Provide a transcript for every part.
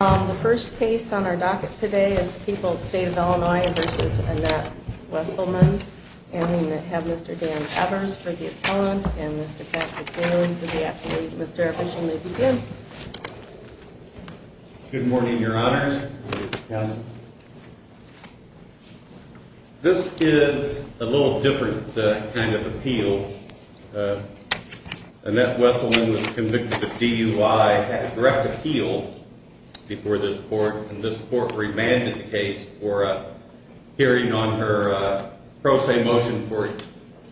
The first case on our docket today is the people of the state of Illinois v. Annette Wesselman, and we have Mr. Dan Evers for the appellant, and Mr. Pat McGill for the appeal. Mr. Official, may we begin? Good morning, your honors. Good morning, counsel. This is a little different kind of appeal. Annette Wesselman was convicted of DUI and had a direct appeal before this court, and this court remanded the case for a hearing on her pro se motion for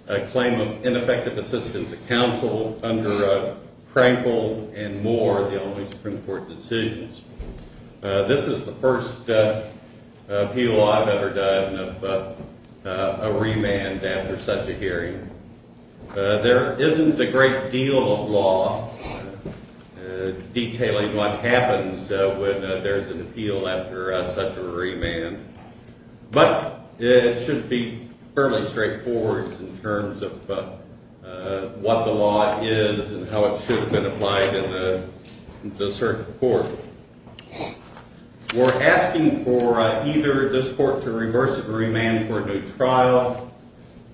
a claim of ineffective assistance of counsel under Crankville and Moore, the Illinois Supreme Court decisions. This is the first appeal I've ever done of a remand after such a hearing. There isn't a great deal of law detailing what happens when there's an appeal after such a remand, but it should be fairly straightforward in terms of what the law is and how it should have been applied in the circuit court. We're asking for either this court to reverse and remand for a new trial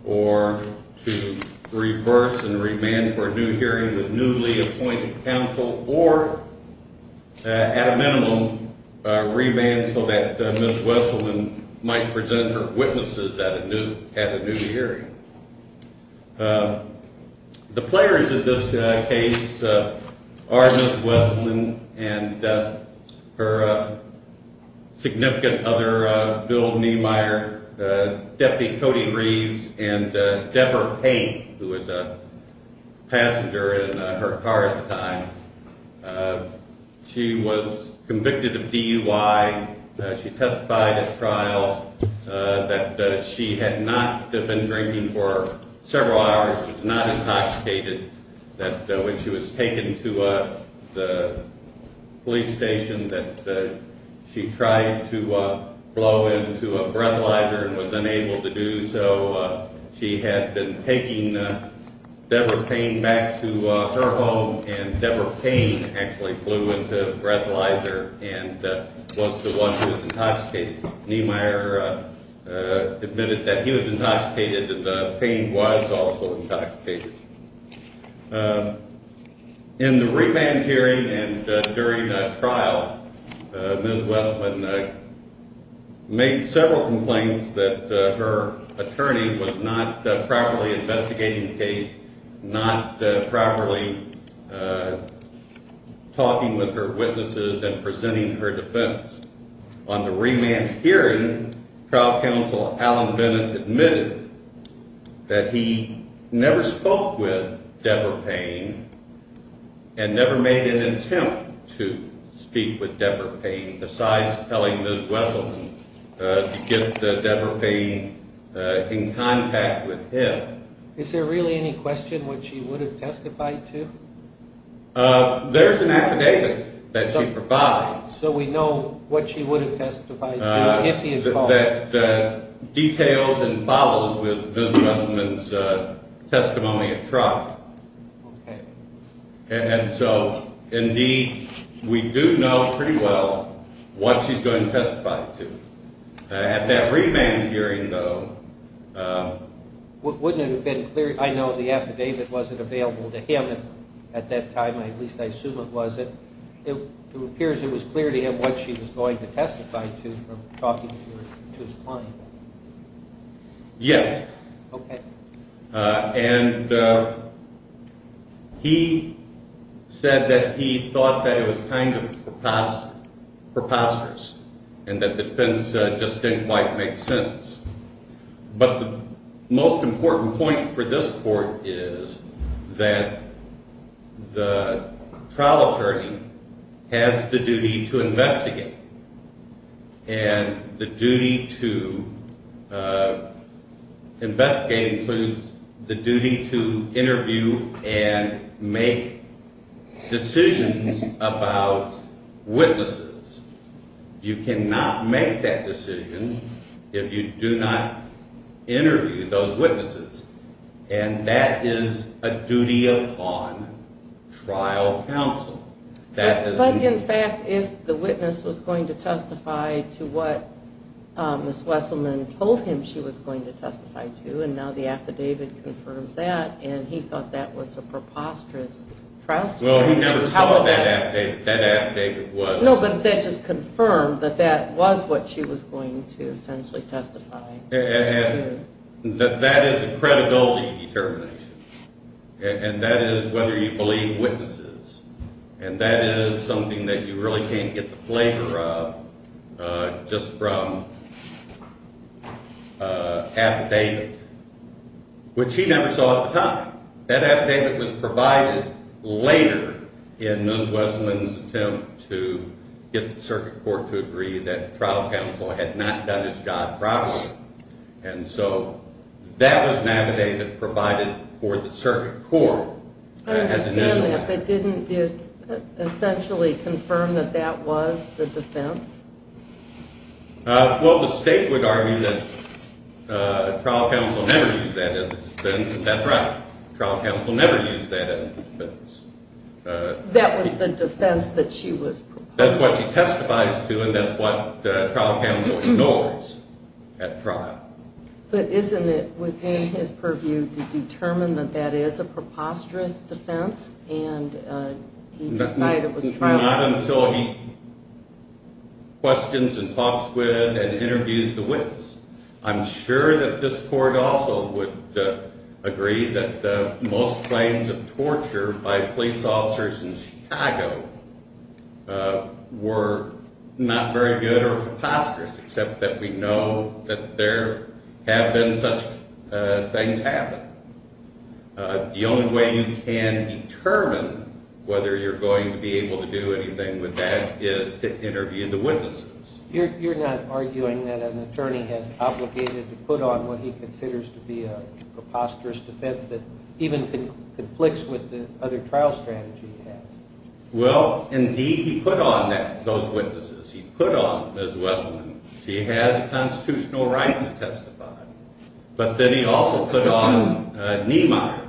or to reverse and remand for a new hearing with newly appointed counsel or, at a minimum, remand so that Ms. Wesselman might present her witnesses at a new hearing. The players of this case are Ms. Wesselman and her significant other, Bill Niemeyer, Deputy Cody Reeves, and Deborah Payne, who was a passenger in her car at the time. She was convicted of DUI. She testified at trial that she had not been drinking for several hours, was not intoxicated, that when she was taken to the police station that she tried to blow into a breathalyzer and was unable to do so. She had been taking Deborah Payne back to her home, and Deborah Payne actually blew into the breathalyzer and was the one who was intoxicated. Niemeyer admitted that he was intoxicated and Payne was also intoxicated. In the remand hearing and during trial, Ms. Wesselman made several complaints that her attorney was not properly investigating the case, not properly talking with her witnesses and presenting her defense. On the remand hearing, trial counsel Alan Bennett admitted that he never spoke with Deborah Payne and never made an attempt to speak with Deborah Payne besides telling Ms. Wesselman to get Deborah Payne in contact with him. Is there really any question which she would have testified to? There's an affidavit that she provides. So we know what she would have testified to if he had called? That details and follows with Ms. Wesselman's testimony at trial. Okay. And so, indeed, we do know pretty well what she's going to testify to. At that remand hearing, though… I know the affidavit wasn't available to him at that time, at least I assume it wasn't. It appears it was clear to him what she was going to testify to from talking to his client. Yes. Okay. And he said that he thought that it was kind of preposterous and that defense just didn't quite make sense. But the most important point for this court is that the trial attorney has the duty to investigate. And the duty to investigate includes the duty to interview and make decisions about witnesses. You cannot make that decision if you do not interview those witnesses. And that is a duty upon trial counsel. But, in fact, if the witness was going to testify to what Ms. Wesselman told him she was going to testify to, and now the affidavit confirms that, and he thought that was a preposterous trial story… Well, he never saw what that affidavit was. No, but that just confirmed that that was what she was going to essentially testify to. And that is a credibility determination. And that is whether you believe witnesses. And that is something that you really can't get the flavor of just from affidavit, which he never saw at the time. Now, that affidavit was provided later in Ms. Wesselman's attempt to get the circuit court to agree that trial counsel had not done his job properly. And so that was an affidavit provided for the circuit court. I understand that, but didn't it essentially confirm that that was the defense? Well, the state would argue that trial counsel never used that as a defense, and that's right. Trial counsel never used that as a defense. That was the defense that she was… That's what she testifies to, and that's what trial counsel ignores at trial. But isn't it within his purview to determine that that is a preposterous defense, and he decided it was trial… Well, not until he questions and talks with and interviews the witness. I'm sure that this court also would agree that most claims of torture by police officers in Chicago were not very good or preposterous, except that we know that there have been such things happen. The only way you can determine whether you're going to be able to do anything with that is to interview the witnesses. You're not arguing that an attorney has obligated to put on what he considers to be a preposterous defense that even conflicts with the other trial strategy he has? Well, indeed he put on those witnesses. He put on Ms. Wesselman. She has constitutional right to testify. But then he also put on Niemeyer,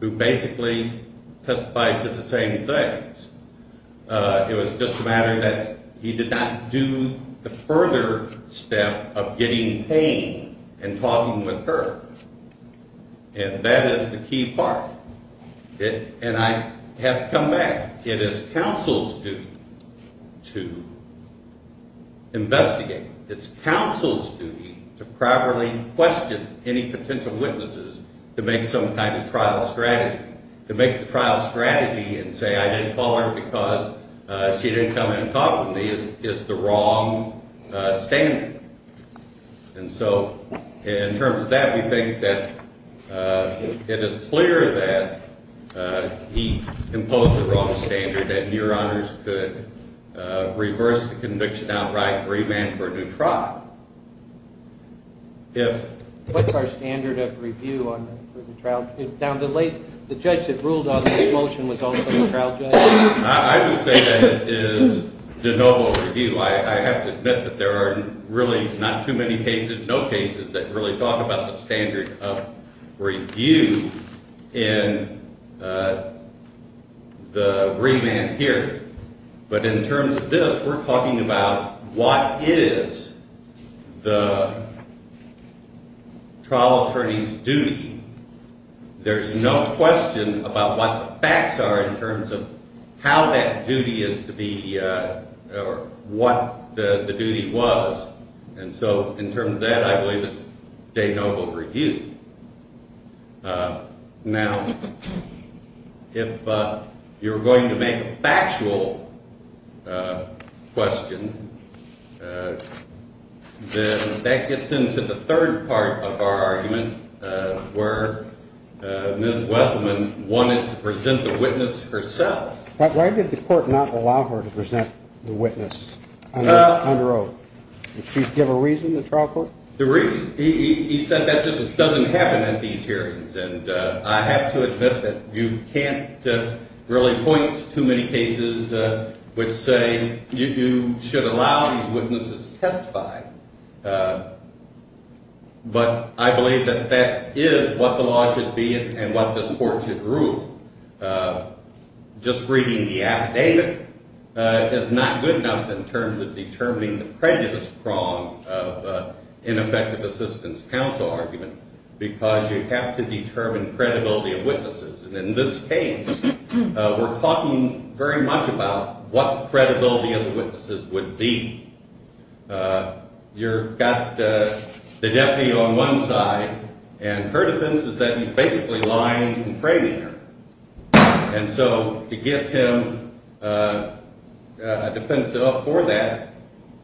who basically testified to the same things. It was just a matter that he did not do the further step of getting pain and talking with her, and that is the key part. And I have to come back. It is counsel's duty to investigate. It's counsel's duty to properly question any potential witnesses to make some kind of trial strategy. To make the trial strategy and say, I didn't call her because she didn't come in and talk with me is the wrong standard. And so in terms of that, we think that it is clear that he imposed the wrong standard and your honors could reverse the conviction outright and remand for a new trial. What's our standard of review for the trial? The judge that ruled on this motion was also a trial judge? I would say that it is de novo review. I have to admit that there are really not too many cases, no cases that really talk about the standard of review in the remand here. But in terms of this, we're talking about what is the trial attorney's duty. There's no question about what the facts are in terms of how that duty is to be or what the duty was. And so in terms of that, I believe it's de novo review. Now, if you're going to make a factual question, that gets into the third part of our argument where Ms. Wesselman wanted to present the witness herself. Why did the court not allow her to present the witness under oath? Did she give a reason, the trial court? He said that just doesn't happen at these hearings, and I have to admit that you can't really point to many cases which say you should allow these witnesses to testify. But I believe that that is what the law should be and what this court should rule. Just reading the affidavit is not good enough in terms of determining the prejudice prong of ineffective assistance counsel argument because you have to determine credibility of witnesses. And in this case, we're talking very much about what the credibility of the witnesses would be. You've got the deputy on one side, and her defense is that he's basically lying and framing her. And so to give him a defense for that,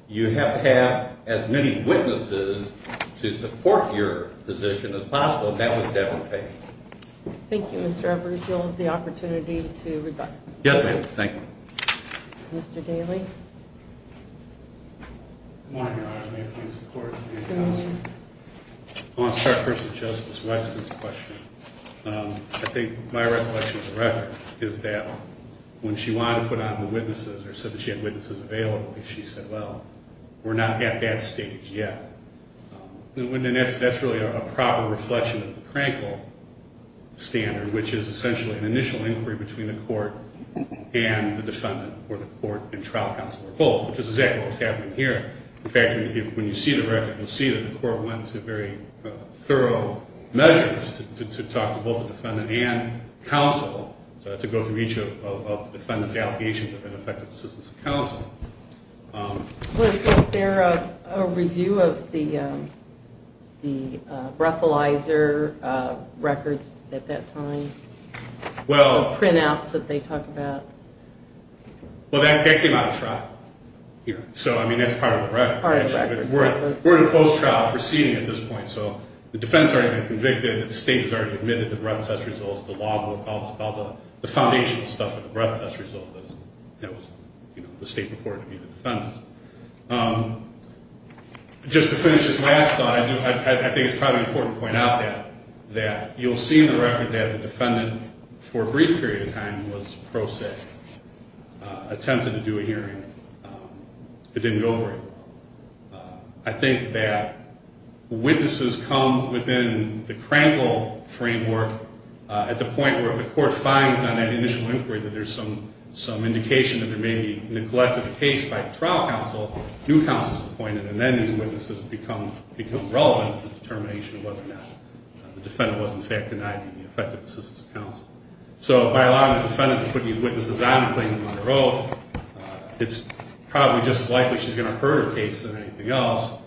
you have to have as many witnesses to support your position as possible. That was devil's pay. Thank you, Mr. Everidge. You'll have the opportunity to rebut. Yes, ma'am. Thank you. Mr. Daly? Good morning, Your Honor. May it please the Court? Good morning. I want to start first with Justice Wexton's question. I think my recollection of the record is that when she wanted to put on the witnesses or said that she had witnesses available, she said, well, we're not at that stage yet. And that's really a proper reflection of the Krankel standard, which is essentially an initial inquiry between the court and the defendant or the court and trial counsel or both, which is exactly what's happening here. In fact, when you see the record, you'll see that the Court went to very thorough measures to talk to both the defendant and counsel to go through each of the defendant's allegations of ineffective assistance of counsel. Was there a review of the breathalyzer records at that time, the printouts that they talk about? Well, that came out of trial. So, I mean, that's part of the record. Part of the record. We're in a post-trial proceeding at this point. So the defendant's already been convicted. The state has already admitted the breath test results, the law book, all the foundational stuff of the breath test results. That was, you know, the state reported to be the defendant. Just to finish this last thought, I think it's probably important to point out that you'll see in the record that the defendant, for a brief period of time, was pro se. Attempted to do a hearing. It didn't go very well. I think that witnesses come within the crankle framework at the point where if the Court finds on that initial inquiry that there's some indication that there may be neglect of the case by the trial counsel, new counsel is appointed. And then these witnesses become relevant to the determination of whether or not the defendant was, in fact, denied the effective assistance of counsel. So by allowing the defendant to put these witnesses on and claim them under oath, it's probably just as likely she's going to hurt her case than anything else,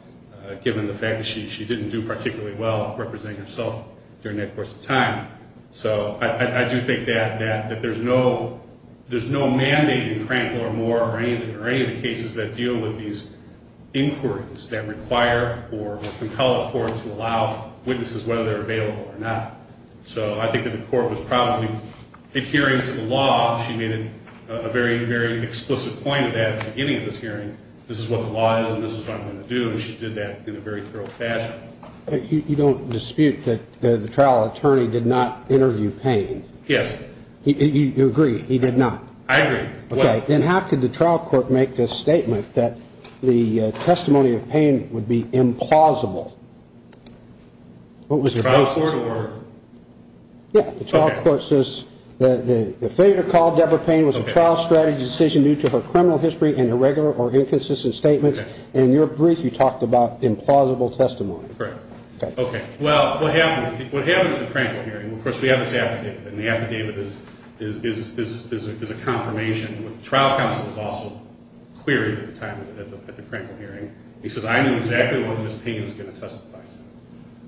given the fact that she didn't do particularly well representing herself during that course of time. So I do think that there's no mandate in crankle or Moore or any of the cases that deal with these inquiries that require or compel a court to allow witnesses, whether they're available or not. So I think that the Court was probably adhering to the law. She made a very, very explicit point at the beginning of this hearing. This is what the law is and this is what I'm going to do. And she did that in a very thorough fashion. You don't dispute that the trial attorney did not interview Payne? Yes. You agree he did not? I agree. Okay. Then how could the trial court make this statement that the testimony of Payne would be implausible? What was the trial court order? Yeah. The trial court says the failure to call Deborah Payne was a trial strategy decision due to her criminal history and irregular or inconsistent statements. And in your brief, you talked about implausible testimony. Correct. Okay. Well, what happened at the crankle hearing, of course, we have this affidavit and the affidavit is a confirmation. The trial counsel was also queried at the time at the crankle hearing. He says, I knew exactly what Ms. Payne was going to testify to.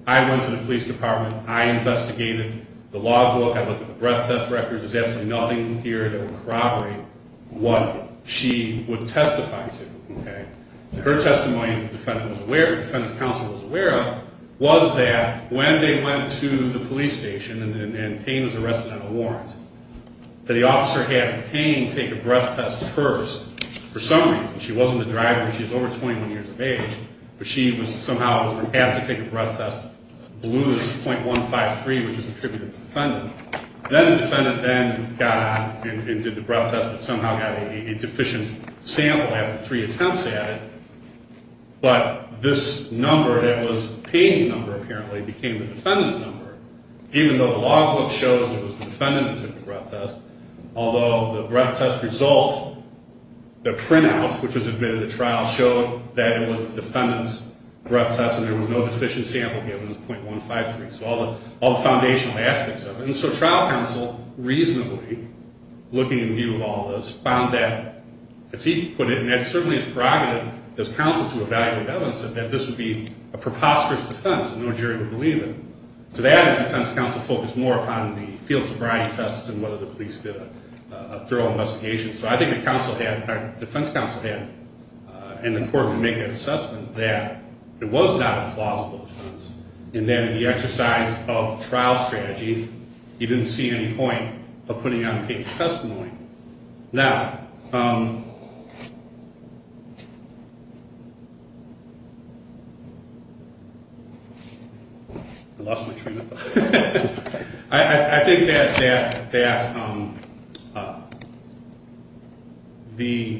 I went to the police department. I investigated the law book. I looked at the breath test records. There's absolutely nothing here that would corroborate what she would testify to. Okay. Her testimony, the defendant was aware of, the defendant's counsel was aware of, was that when they went to the police station and Payne was arrested on a warrant, that the officer had Payne take a breath test first. For some reason. She wasn't the driver. She was over 21 years of age, but she somehow was asked to take a breath test. Blue is .153, which is attributed to the defendant. Then the defendant then got on and did the breath test, but somehow got a deficient sample after three attempts at it. But this number that was Payne's number, apparently, became the defendant's number. Even though the law book shows it was the defendant who took the breath test, although the breath test result, the printout, which was admitted at trial, showed that it was the defendant's breath test and there was no deficient sample given. It was .153. So all the foundational aspects of it. And so trial counsel reasonably, looking in view of all this, found that, as he put it, and that certainly is prerogative as counsel to evaluate evidence, that this would be a preposterous defense that no jury would believe in. To that end, defense counsel focused more upon the field sobriety tests and whether the police did a thorough investigation. So I think the defense counsel had, in the court, to make an assessment that it was not a plausible defense. And then the exercise of trial strategy, he didn't see any point of putting on Payne's testimony. Now, I lost my train of thought. I think that the ‑‑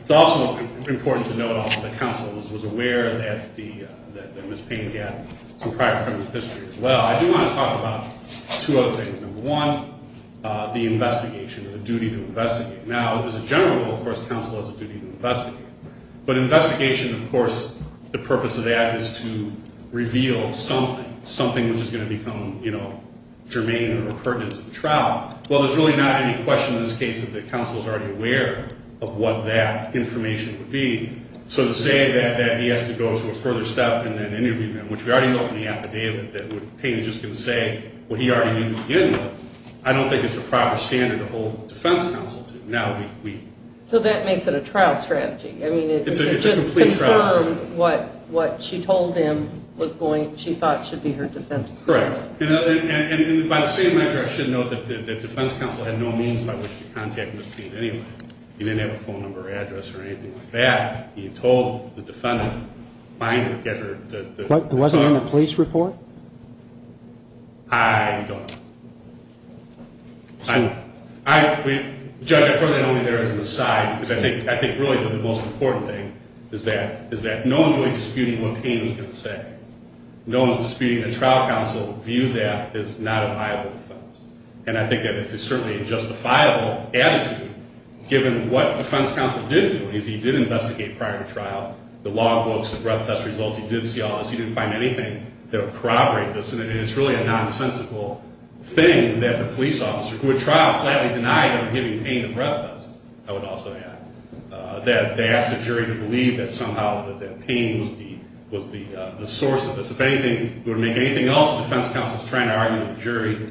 it's also important to note also that counsel was aware that there was Payne's death from prior criminal history as well. I do want to talk about two other things. Number one, the investigation or the duty to investigate. Now, as a general rule, of course, counsel has a duty to investigate. But investigation, of course, the purpose of that is to reveal something, something which is going to become, you know, germane or pertinent to the trial. Well, there's really not any question in this case that the counsel is already aware of what that information would be. So to say that he has to go to a further step in that interview, which we already know from the affidavit that Payne is just going to say what he already knew from the interview, I don't think it's a proper standard to hold the defense counsel to. Now we ‑‑ So that makes it a trial strategy. I mean, it just confirmed what she told him was going ‑‑ she thought should be her defense counsel. Correct. And by the same measure, I should note that the defense counsel had no means by which to contact Ms. Payne anyway. He didn't have a phone number or address or anything like that. He had told the defendant, find her, get her ‑‑ Wasn't it in the police report? I don't know. Judge, I firmly don't think there is an aside, because I think really the most important thing is that no one is really disputing what Payne was going to say. No one is disputing a trial counsel view that is not a viable defense. And I think that it's certainly a justifiable attitude, given what the defense counsel did do, is he did investigate prior to trial, the log books, the breath test results. He did see all this. He didn't find anything that would corroborate this. And it's really a nonsensical thing that the police officer, who at trial flatly denied him giving Payne a breath test, I would also add, that they asked the jury to believe that somehow that Payne was the source of this. If anything, it would make anything else the defense counsel is trying to argue with the jury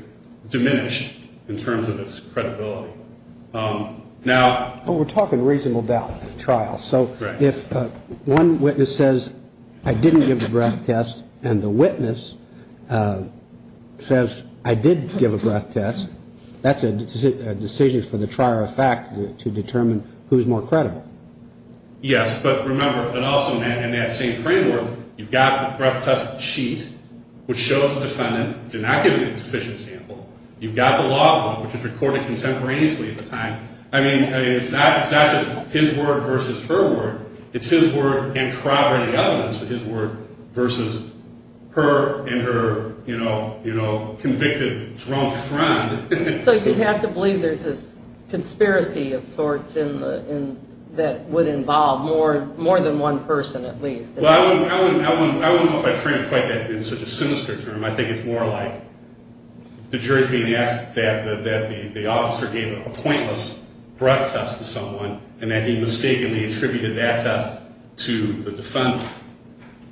diminished in terms of its credibility. Now ‑‑ But we're talking reasonable doubt at trial. So if one witness says, I didn't give the breath test, and the witness says, I did give a breath test, that's a decision for the trier of fact to determine who is more credible. Yes. But remember, and also in that same framework, you've got the breath test sheet, which shows the defendant did not give a sufficient sample. You've got the log book, which is recorded contemporaneously at the time. I mean, it's not just his word versus her word. It's his word and corroborating evidence for his word versus her and her, you know, convicted drunk friend. So you have to believe there's this conspiracy of sorts that would involve more than one person at least. Well, I wouldn't call it a friend quite that in such a sinister term. I think it's more like the jury is being asked that the officer gave a pointless breath test to someone and that he mistakenly attributed that test to the defendant.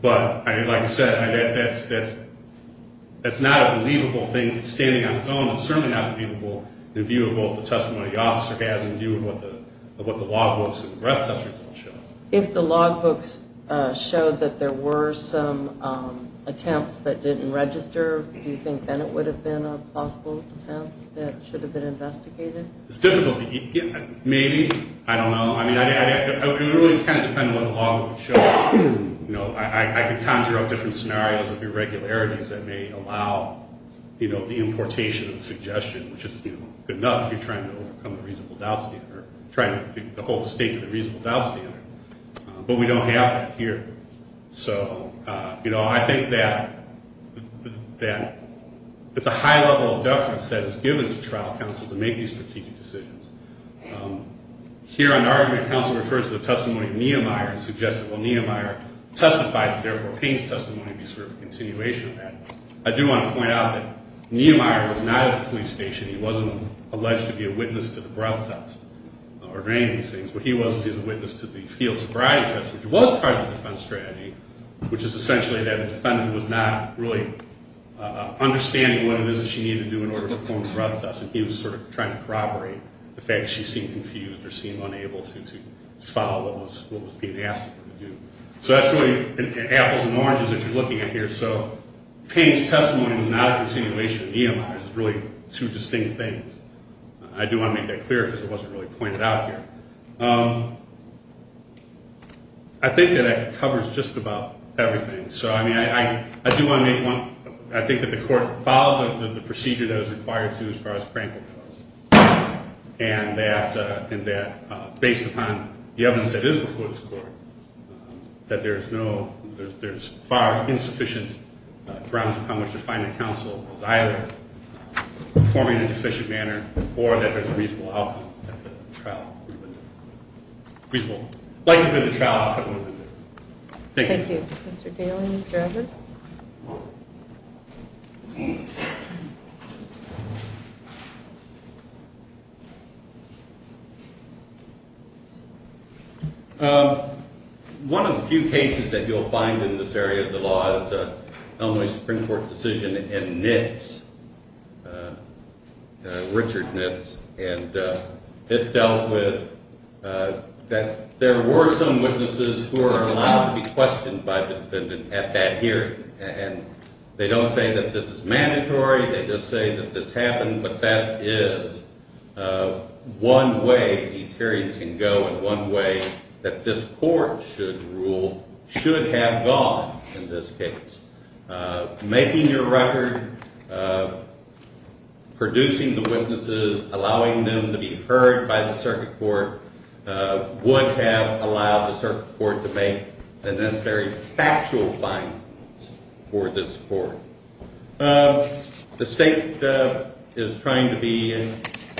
But like I said, that's not a believable thing standing on its own. It's certainly not believable in view of both the testimony the officer has and in view of what the log books and the breath test results show. If the log books showed that there were some attempts that didn't register, do you think then it would have been a possible offense that should have been investigated? It's difficult to – maybe. I don't know. I mean, it really is kind of dependent on what the log books show. You know, I can conjure up different scenarios of irregularities that may allow, you know, the importation of the suggestion, which is good enough if you're trying to overcome the reasonable doubt standard or trying to hold the state to the reasonable doubt standard. But we don't have that here. So, you know, I think that it's a high level of deference that is given to trial counsel to make these strategic decisions. Here, an argument of counsel refers to the testimony of Niemeyer and suggests that while Niemeyer testifies, therefore Payne's testimony would be sort of a continuation of that. I do want to point out that Niemeyer was not at the police station. He wasn't alleged to be a witness to the breath test or any of these things. He was a witness to the field sobriety test, which was part of the defense strategy, which is essentially that a defendant was not really understanding what it is that she needed to do in order to perform the breath test, and he was sort of trying to corroborate the fact that she seemed confused or seemed unable to follow what was being asked of her to do. So that's really apples and oranges as you're looking at here. So Payne's testimony was not a continuation of Niemeyer's. It's really two distinct things. I do want to make that clear because it wasn't really pointed out here. I think that that covers just about everything. So, I mean, I do want to make one point. I think that the court followed the procedure that was required to as far as Pranker was, and that based upon the evidence that is before this court, that there is no, there's far insufficient grounds upon which to find that counsel was either performing in a deficient manner or that there's a reasonable outcome, a reasonable likelihood of a trial outcome. Thank you. Thank you. Mr. Daly, Mr. Evans? One of the few cases that you'll find in this area of the law is an Illinois Supreme Court decision in NITS, Richard NITS, and it dealt with that there were some witnesses who were allowed to be questioned by the defendant at that hearing. And they don't say that this is mandatory. They just say that this happened, but that is one way these hearings can go and one way that this court should rule, should have gone in this case. Making your record, producing the witnesses, allowing them to be heard by the circuit court, would have allowed the circuit court to make the necessary factual findings for this court. The state is trying to be,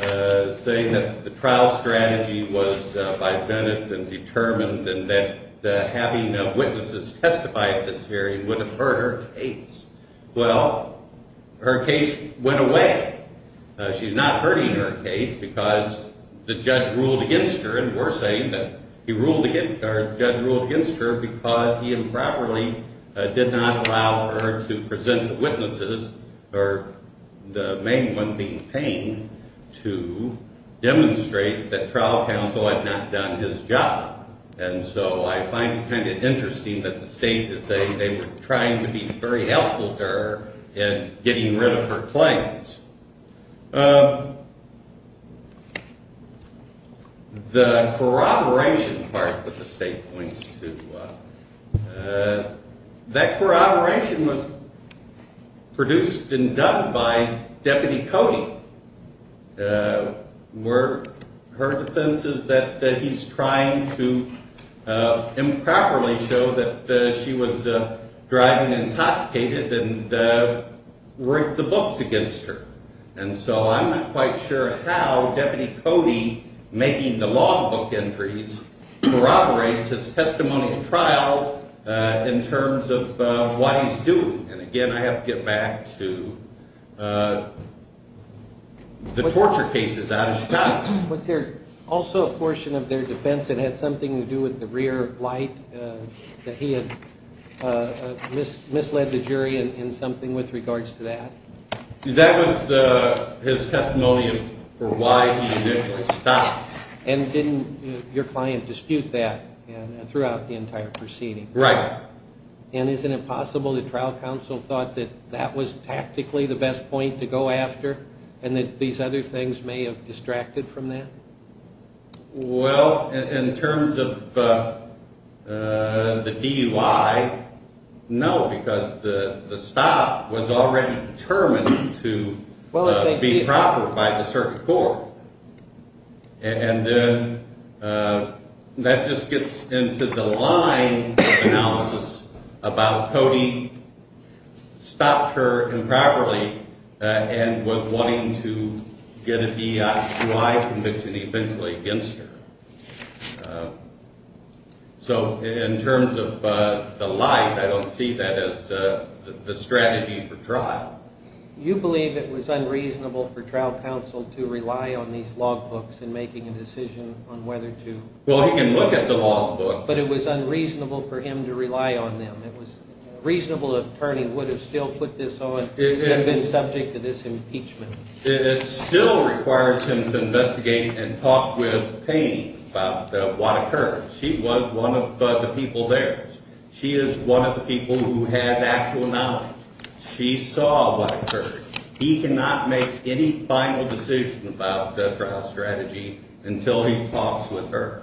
saying that the trial strategy was by Bennett and determined and that having witnesses testify at this hearing would have hurt her case. Well, her case went away. She's not hurting her case because the judge ruled against her, and we're saying that the judge ruled against her because he improperly did not allow her to present the witnesses, or the main one being Payne, to demonstrate that trial counsel had not done his job. And so I find it kind of interesting that the state is saying they were trying to be very helpful to her in getting rid of her claims. The corroboration part that the state points to, that corroboration was produced and done by Deputy Cody. Her defense is that he's trying to improperly show that she was driving intoxicated and write the books against her. And so I'm not quite sure how Deputy Cody, making the law book entries, corroborates his testimonial trial in terms of what he's doing. And, again, I have to get back to the torture cases out of Chicago. Was there also a portion of their defense that had something to do with the rear blight, that he had misled the jury in something with regards to that? That was his testimonial for why he initially stopped. And didn't your client dispute that throughout the entire proceeding? Right. And isn't it possible that trial counsel thought that that was tactically the best point to go after and that these other things may have distracted from that? Well, in terms of the DUI, no, because the stop was already determined to be proper by the circuit court. And then that just gets into the line analysis about Cody stopped her improperly and was wanting to get a DUI conviction eventually against her. So in terms of the life, I don't see that as the strategy for trial. You believe it was unreasonable for trial counsel to rely on these law books in making a decision on whether to? Well, he can look at the law books. But it was unreasonable for him to rely on them. It was reasonable that Turney would have still put this on and been subject to this impeachment. It still requires him to investigate and talk with Payne about what occurred. She was one of the people there. She is one of the people who has actual knowledge. She saw what occurred. He cannot make any final decision about the trial strategy until he talks with her.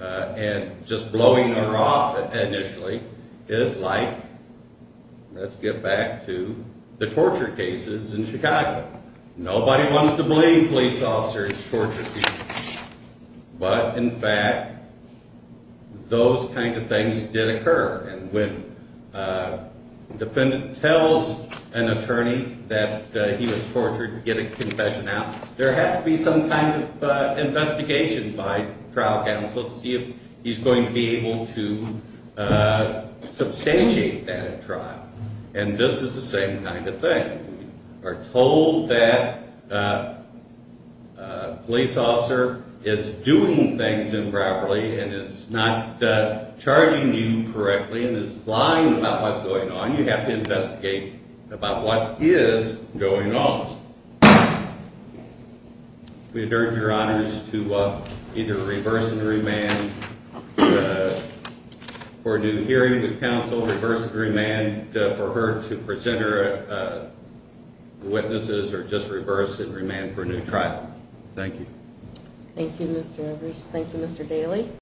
And just blowing her off initially is like, let's get back to the torture cases in Chicago. Nobody wants to believe police officers torture people. But, in fact, those kind of things did occur. And when a defendant tells an attorney that he was tortured to get a confession out, there has to be some kind of investigation by trial counsel to see if he's going to be able to substantiate that at trial. And this is the same kind of thing. You are told that a police officer is doing things improperly and is not charging you correctly and is lying about what's going on. Now you have to investigate about what is going on. We urge your honors to either reverse and remand for a new hearing with counsel, reverse and remand for her to present her witnesses, or just reverse and remand for a new trial. Thank you. Thank you, Mr. Rivers. Thank you, Mr. Daley.